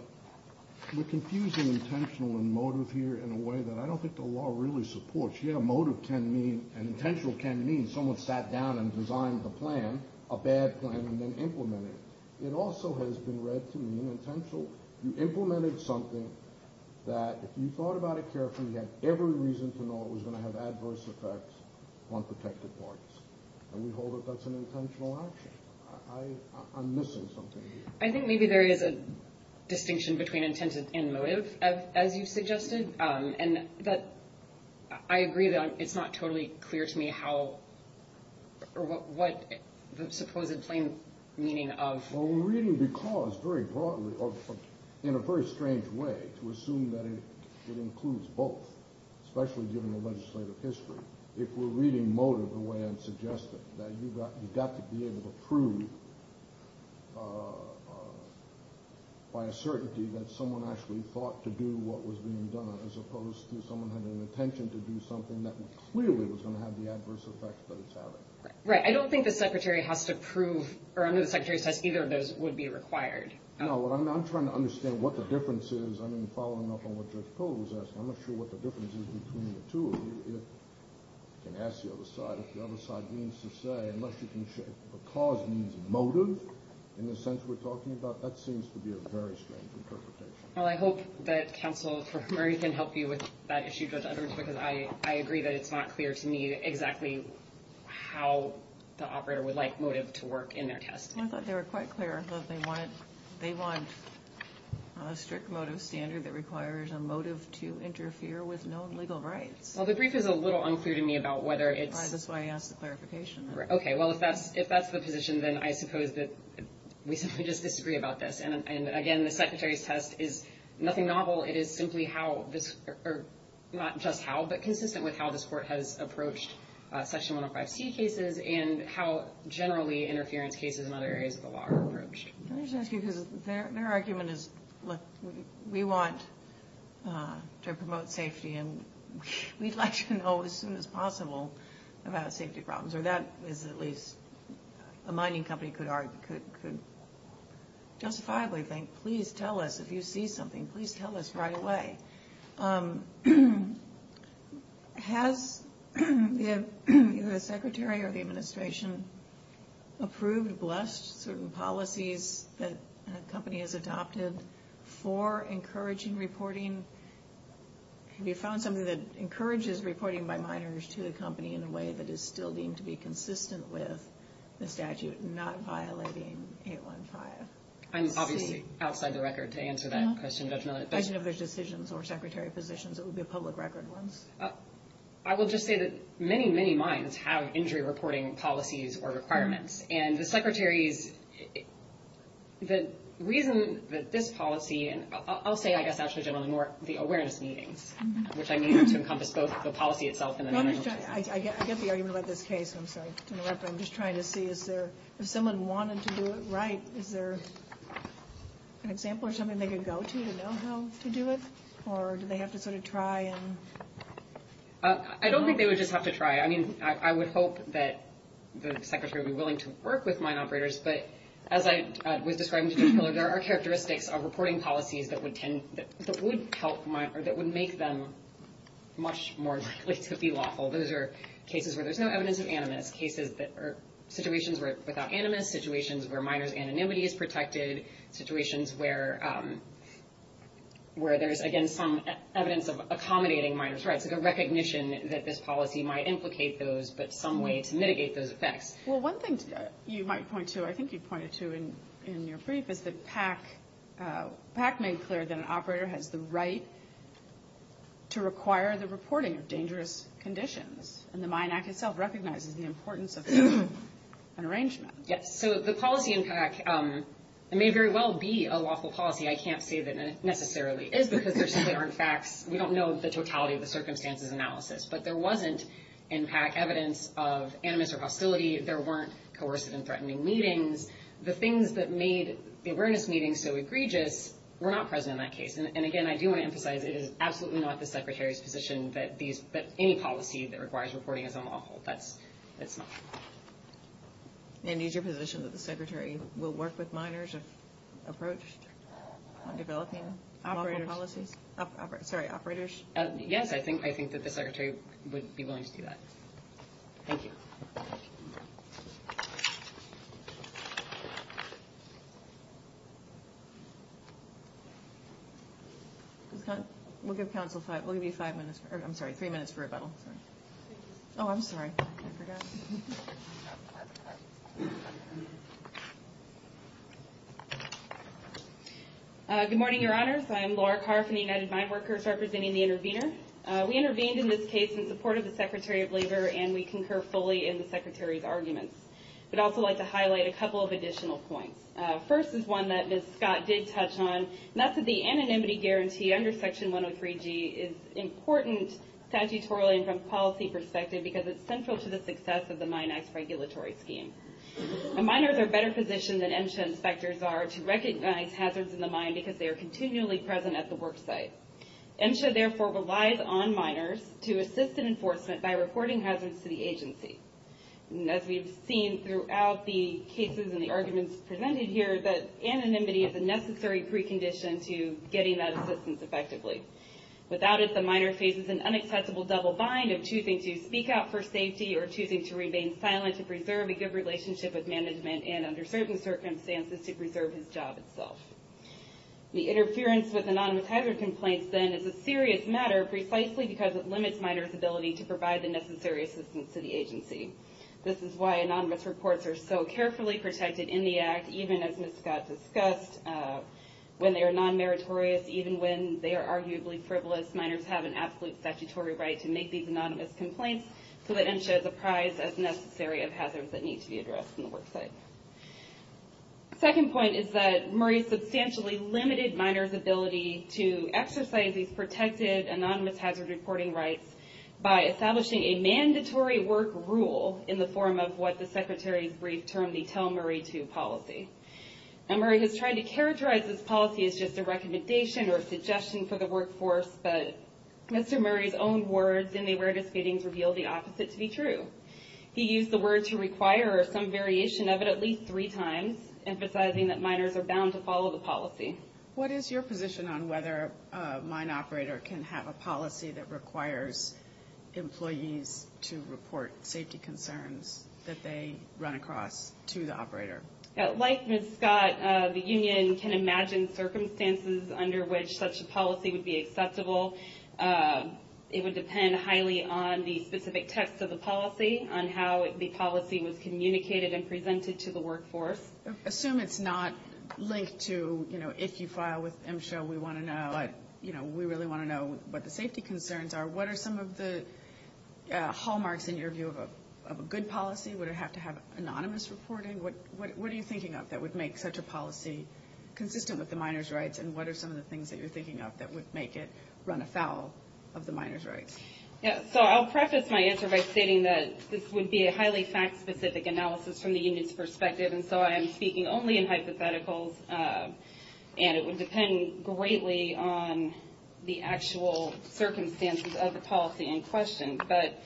we're confusing intentional and motive here in a way that I don't think the law really supports. Yeah, motive can mean and intentional can mean someone sat down and designed a plan, a bad plan, and then implemented it. It also has been read to mean intentional. You implemented something that if you thought about it carefully, you had every reason to know it was going to have adverse effects on protected parties. And we hold that that's an intentional action. I'm missing something here. I think maybe there is a distinction between intent and motive, as you suggested, and that I agree that it's not totally clear to me how or what the supposed plain meaning of- Well, we're reading because very broadly or in a very strange way to assume that it includes both, especially given the legislative history. If we're reading motive the way I'm suggesting, that you've got to be able to prove by a certainty that someone actually thought to do what was being done, as opposed to someone had an intention to do something that clearly was going to have the adverse effects that it's having. Right. I don't think the Secretary has to prove, or under the Secretary's test, either of those would be required. No, I'm trying to understand what the difference is. I mean, following up on what Judge Kohler was asking, I'm not sure what the difference is between the two of you. You can ask the other side if the other side means to say, unless you can show the cause means motive, in the sense we're talking about, that seems to be a very strange interpretation. Well, I hope that Counsel Murray can help you with that issue, Judge Edwards, because I agree that it's not clear to me exactly how the operator would like motive to work in their test. I thought they were quite clear that they want a strict motive standard that requires a motive to interfere with known legal rights. Well, the brief is a little unclear to me about whether it's – That's why I asked the clarification. Okay. Well, if that's the position, then I suppose that we simply just disagree about this. And again, the Secretary's test is nothing novel. It is simply how this – or not just how, but consistent with how this Court has approached Section 105C cases and how generally interference cases in other areas of the law are approached. Can I just ask you, because their argument is, look, we want to promote safety, and we'd like to know as soon as possible about safety problems. Or that is at least a mining company could justifiably think, please tell us. If you see something, please tell us right away. Has the Secretary or the Administration approved, blessed certain policies that a company has adopted for encouraging reporting? Have you found something that encourages reporting by miners to the company in a way that is still deemed to be consistent with the statute and not violating 815C? I'm obviously outside the record to answer that question. I don't know if there's decisions or Secretary positions. It would be a public record once. I will just say that many, many mines have injury reporting policies or requirements. And the Secretary's – the reason that this policy – I'll say, I guess, actually, generally more the awareness meetings, which I mean have to encompass both the policy itself and the – I get the argument about this case. I'm sorry to interrupt, but I'm just trying to see is there – if someone wanted to do it right, is there an example or something they could go to to know how to do it? Or do they have to sort of try and – I don't think they would just have to try. I mean, I would hope that the Secretary would be willing to work with mine operators. But as I was describing to Jim Miller, there are characteristics of reporting policies that would tend – that would help mine – or that would make them much more likely to be lawful. Those are cases where there's no evidence of animus, cases that are – situations without animus, situations where miners' anonymity is protected, situations where there's, again, some evidence of accommodating miners' rights, like a recognition that this policy might implicate those, but some way to mitigate those effects. Well, one thing you might point to, I think you pointed to in your brief, is that PAC made clear that an operator has the right to require the reporting of dangerous conditions. And the Mine Act itself recognizes the importance of an arrangement. Yes. So the policy in PAC may very well be a lawful policy. I can't say that it necessarily is because there simply aren't facts. We don't know the totality of the circumstances analysis. But there wasn't in PAC evidence of animus or hostility. There weren't coercive and threatening meetings. The things that made the awareness meetings so egregious were not present in that case. And, again, I do want to emphasize it is absolutely not the Secretary's position that these – that any policy that requires reporting is unlawful. That's – it's not. And is your position that the Secretary will work with miners if approached on developing lawful policies? Operators. Sorry, operators. Yes, I think that the Secretary would be willing to do that. Thank you. We'll give Council five – we'll give you five minutes – I'm sorry, three minutes for rebuttal. Oh, I'm sorry. I forgot. Good morning, Your Honors. I am Laura Carr from the United Mine Workers, representing the intervener. We intervened in this case in support of the Secretary of Labor, and we concur fully in the Secretary's arguments. I'd also like to highlight a couple of additional points. First is one that Ms. Scott did touch on, and that's that the anonymity guarantee under Section 103G is important statutorily and from a policy perspective because it's central to the success of the Mine Act's regulatory scheme. Miners are better positioned than MSHA inspectors are to recognize hazards in the mine because they are continually present at the work site. MSHA, therefore, relies on miners to assist in enforcement by reporting hazards to the agency. As we've seen throughout the cases and the arguments presented here, that anonymity is a necessary precondition to getting that assistance effectively. Without it, the miner faces an unaccessible double bind of choosing to speak out for safety or choosing to remain silent to preserve a good relationship with management and under certain circumstances to preserve his job itself. The interference with anonymous hazard complaints, then, is a serious matter precisely because it limits miners' ability to provide the necessary assistance to the agency. This is why anonymous reports are so carefully protected in the Act, even as Ms. Scott discussed, when they are non-meritorious, even when they are arguably frivolous. Miners have an absolute statutory right to make these anonymous complaints so that MSHA is apprised, as necessary, of hazards that need to be addressed in the work site. The second point is that Murray substantially limited miners' ability to exercise these protected anonymous hazard reporting rights by establishing a mandatory work rule in the form of what the Secretary's brief term, the Tell Murray To policy. Murray has tried to characterize this policy as just a recommendation or a suggestion for the workforce, but Mr. Murray's own words in the awareness meetings reveal the opposite to be true. He used the word to require some variation of it at least three times, emphasizing that miners are bound to follow the policy. What is your position on whether a mine operator can have a policy that requires employees to report safety concerns that they run across to the operator? Like Ms. Scott, the union can imagine circumstances under which such a policy would be acceptable. It would depend highly on the specific text of the policy, on how the policy was communicated and presented to the workforce. Assume it's not linked to, you know, if you file with MSHA, we want to know, you know, we really want to know what the safety concerns are. What are some of the hallmarks, in your view, of a good policy? Would it have to have anonymous reporting? What are you thinking of that would make such a policy consistent with the miners' rights and what are some of the things that you're thinking of that would make it run afoul of the miners' rights? Yeah, so I'll preface my answer by stating that this would be a highly fact-specific analysis from the union's perspective and so I am speaking only in hypotheticals and it would depend greatly on the actual circumstances of the policy in question. But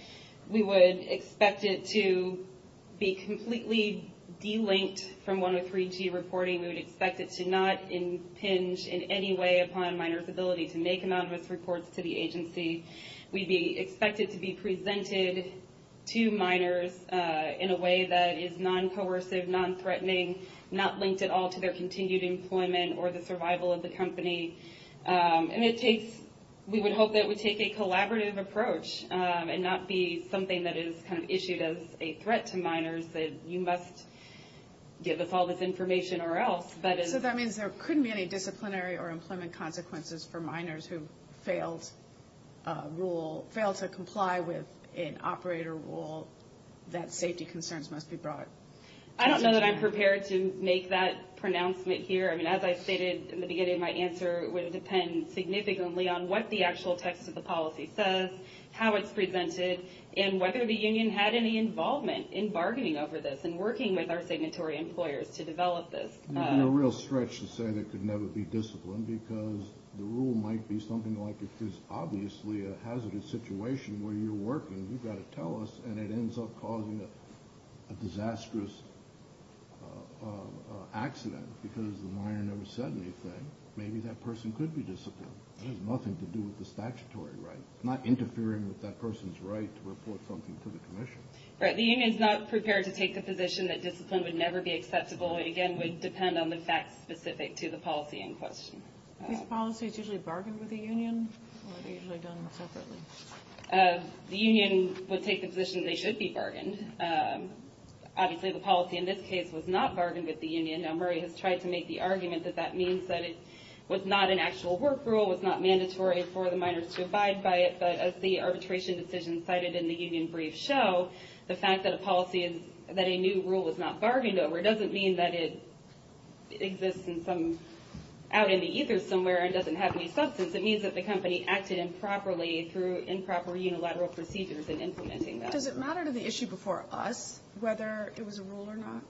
we would expect it to be completely delinked from 103G reporting. We would expect it to not impinge in any way upon miners' ability to make anonymous reports to the agency. We'd expect it to be presented to miners in a way that is non-coercive, non-threatening, not linked at all to their continued employment or the survival of the company. And it takes – we would hope that it would take a collaborative approach and not be something that is kind of issued as a threat to miners, that you must give us all this information or else. So that means there couldn't be any disciplinary or employment consequences for miners who failed to comply with an operator rule that safety concerns must be brought to the union. I don't know that I'm prepared to make that pronouncement here. I mean, as I stated in the beginning of my answer, it would depend significantly on what the actual text of the policy says, how it's presented, and whether the union had any involvement in bargaining over this and working with our signatory employers to develop this. You're in a real stretch to say there could never be discipline because the rule might be something like if there's obviously a hazardous situation where you're working, you've got to tell us, and it ends up causing a disastrous accident because the miner never said anything, maybe that person could be disciplined. That has nothing to do with the statutory right. It's not interfering with that person's right to report something to the commission. The union's not prepared to take the position that discipline would never be acceptable. It, again, would depend on the facts specific to the policy in question. These policies usually bargain with the union or are they usually done separately? The union would take the position they should be bargained. Obviously, the policy in this case was not bargained with the union. Murray has tried to make the argument that that means that it was not an actual work rule, was not mandatory for the miners to abide by it, but as the arbitration decision cited in the union brief show, the fact that a new rule was not bargained over doesn't mean that it exists out in the ether somewhere and doesn't have any substance. It means that the company acted improperly through improper unilateral procedures in implementing that. Does it matter to the issue before us whether it was a rule or not?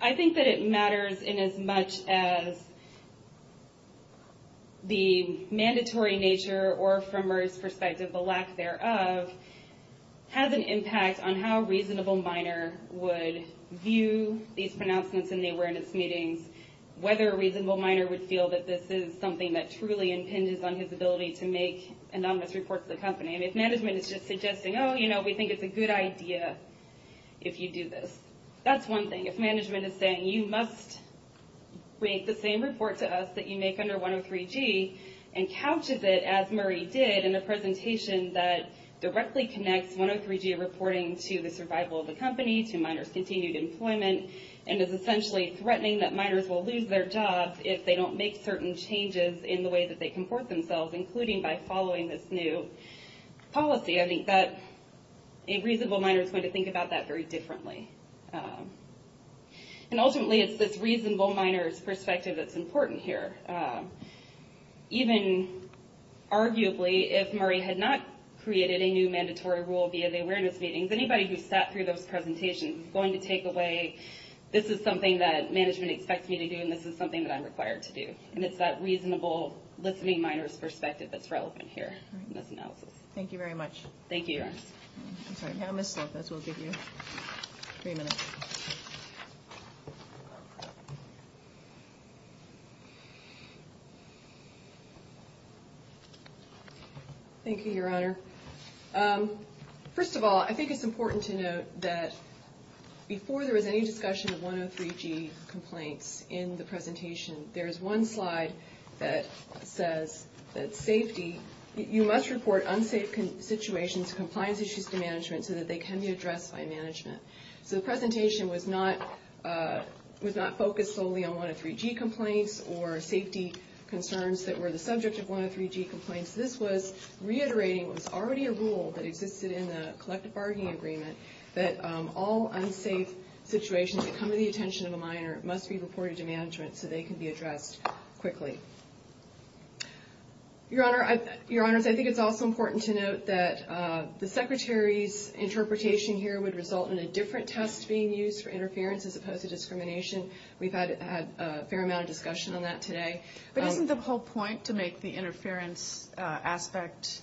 I think that it matters inasmuch as the mandatory nature or, from Murray's perspective, the lack thereof has an impact on how a reasonable miner would view these pronouncements in the awareness meetings, whether a reasonable miner would feel that this is something that truly impinges on his ability to make anonymous reports to the company. If management is just suggesting, oh, you know, we think it's a good idea if you do this. That's one thing. If management is saying, you must make the same report to us that you make under 103G and couches it, as Murray did, in a presentation that directly connects 103G reporting to the survival of the company, to miners' continued employment, and is essentially threatening that miners will lose their jobs if they don't make certain changes in the way that they comport themselves, including by following this new policy, I think that a reasonable miner is going to think about that very differently. Ultimately, it's this reasonable miner's perspective that's important here. Even, arguably, if Murray had not created a new mandatory rule via the awareness meetings, anybody who sat through those presentations is going to take away, this is something that management expects me to do and this is something that I'm required to do. And it's that reasonable listening miner's perspective that's relevant here in this analysis. Thank you very much. Thank you, Your Honor. I'm sorry, now Ms. Lopez will give you three minutes. Thank you, Your Honor. First of all, I think it's important to note that before there was any discussion of 103G complaints in the presentation, there is one slide that says that safety, you must report unsafe situations, compliance issues to management so that they can be addressed by management. So the presentation was not focused solely on 103G complaints or safety concerns that were the subject of 103G complaints. This was reiterating what was already a rule that existed in the collective bargaining agreement that all unsafe situations that come to the attention of a miner must be reported to management so they can be addressed quickly. Your Honor, I think it's also important to note that the Secretary's interpretation here would result in a different test being used for interference as opposed to discrimination. We've had a fair amount of discussion on that today. But isn't the whole point to make the interference aspect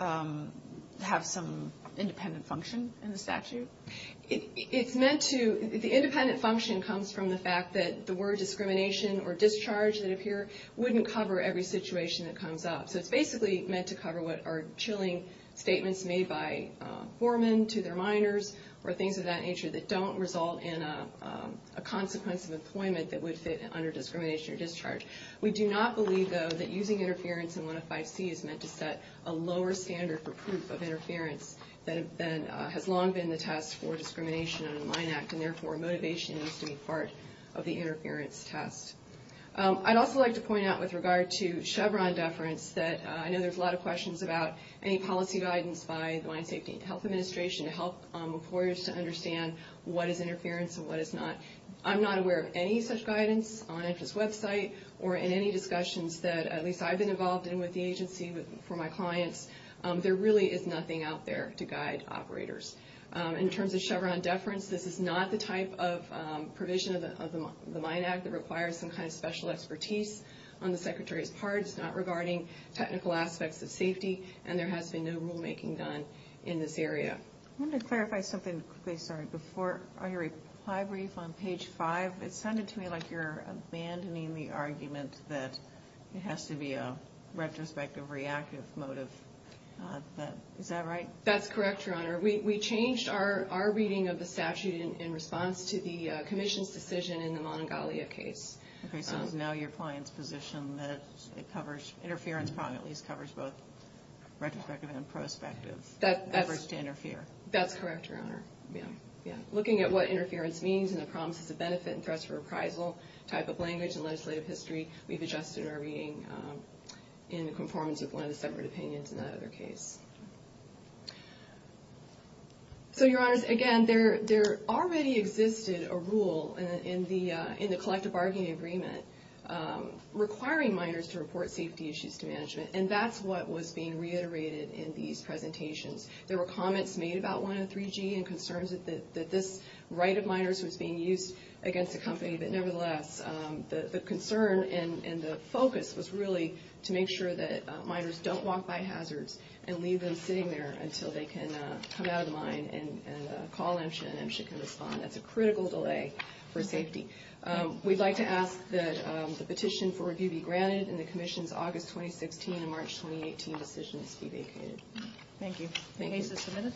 have some independent function in the statute? It's meant to, the independent function comes from the fact that the word discrimination or discharge that appear wouldn't cover every situation that comes up. So it's basically meant to cover what are chilling statements made by foremen to their miners or things of that nature that don't result in a consequence of employment that would fit under discrimination or discharge. We do not believe, though, that using interference in 105C is meant to set a lower standard for proof of interference that has long been the test for discrimination under the Mine Act and therefore motivation needs to be part of the interference test. I'd also like to point out with regard to Chevron deference that I know there's a lot of questions about any policy guidance by the Mine Safety and Health Administration to help employers to understand what is interference and what is not. I'm not aware of any such guidance on IFAS's website or in any discussions that at least I've been involved in with the agency for my clients. There really is nothing out there to guide operators. In terms of Chevron deference, this is not the type of provision of the Mine Act that requires some kind of special expertise on the Secretary's part. It's not regarding technical aspects of safety and there has been no rulemaking done in this area. I wanted to clarify something before your reply brief on page 5. It sounded to me like you're abandoning the argument that it has to be a retrospective reactive motive. Is that right? That's correct, Your Honor. We changed our reading of the statute in response to the Commission's decision in the Monongalia case. Okay, so it's now your client's position that interference probably at least covers both retrospective and prospective efforts to interfere. That's correct, Your Honor. Looking at what interference means and the promises of benefit and threats of reprisal type of language in legislative history, we've adjusted our reading in conformance with one of the separate opinions in that other case. So, Your Honors, again, there already existed a rule in the collective bargaining agreement requiring miners to report safety issues to management and that's what was being reiterated in these presentations. There were comments made about 103G and concerns that this right of miners was being used against the company, but nevertheless, the concern and the focus was really to make sure that miners don't walk by hazards and leave them sitting there until they can come out of the mine and call MSHA and MSHA can respond. That's a critical delay for safety. We'd like to ask that the petition for review be granted and the Commission's August 2016 and March 2018 decisions be vacated. Thank you. Thank you. Case is submitted.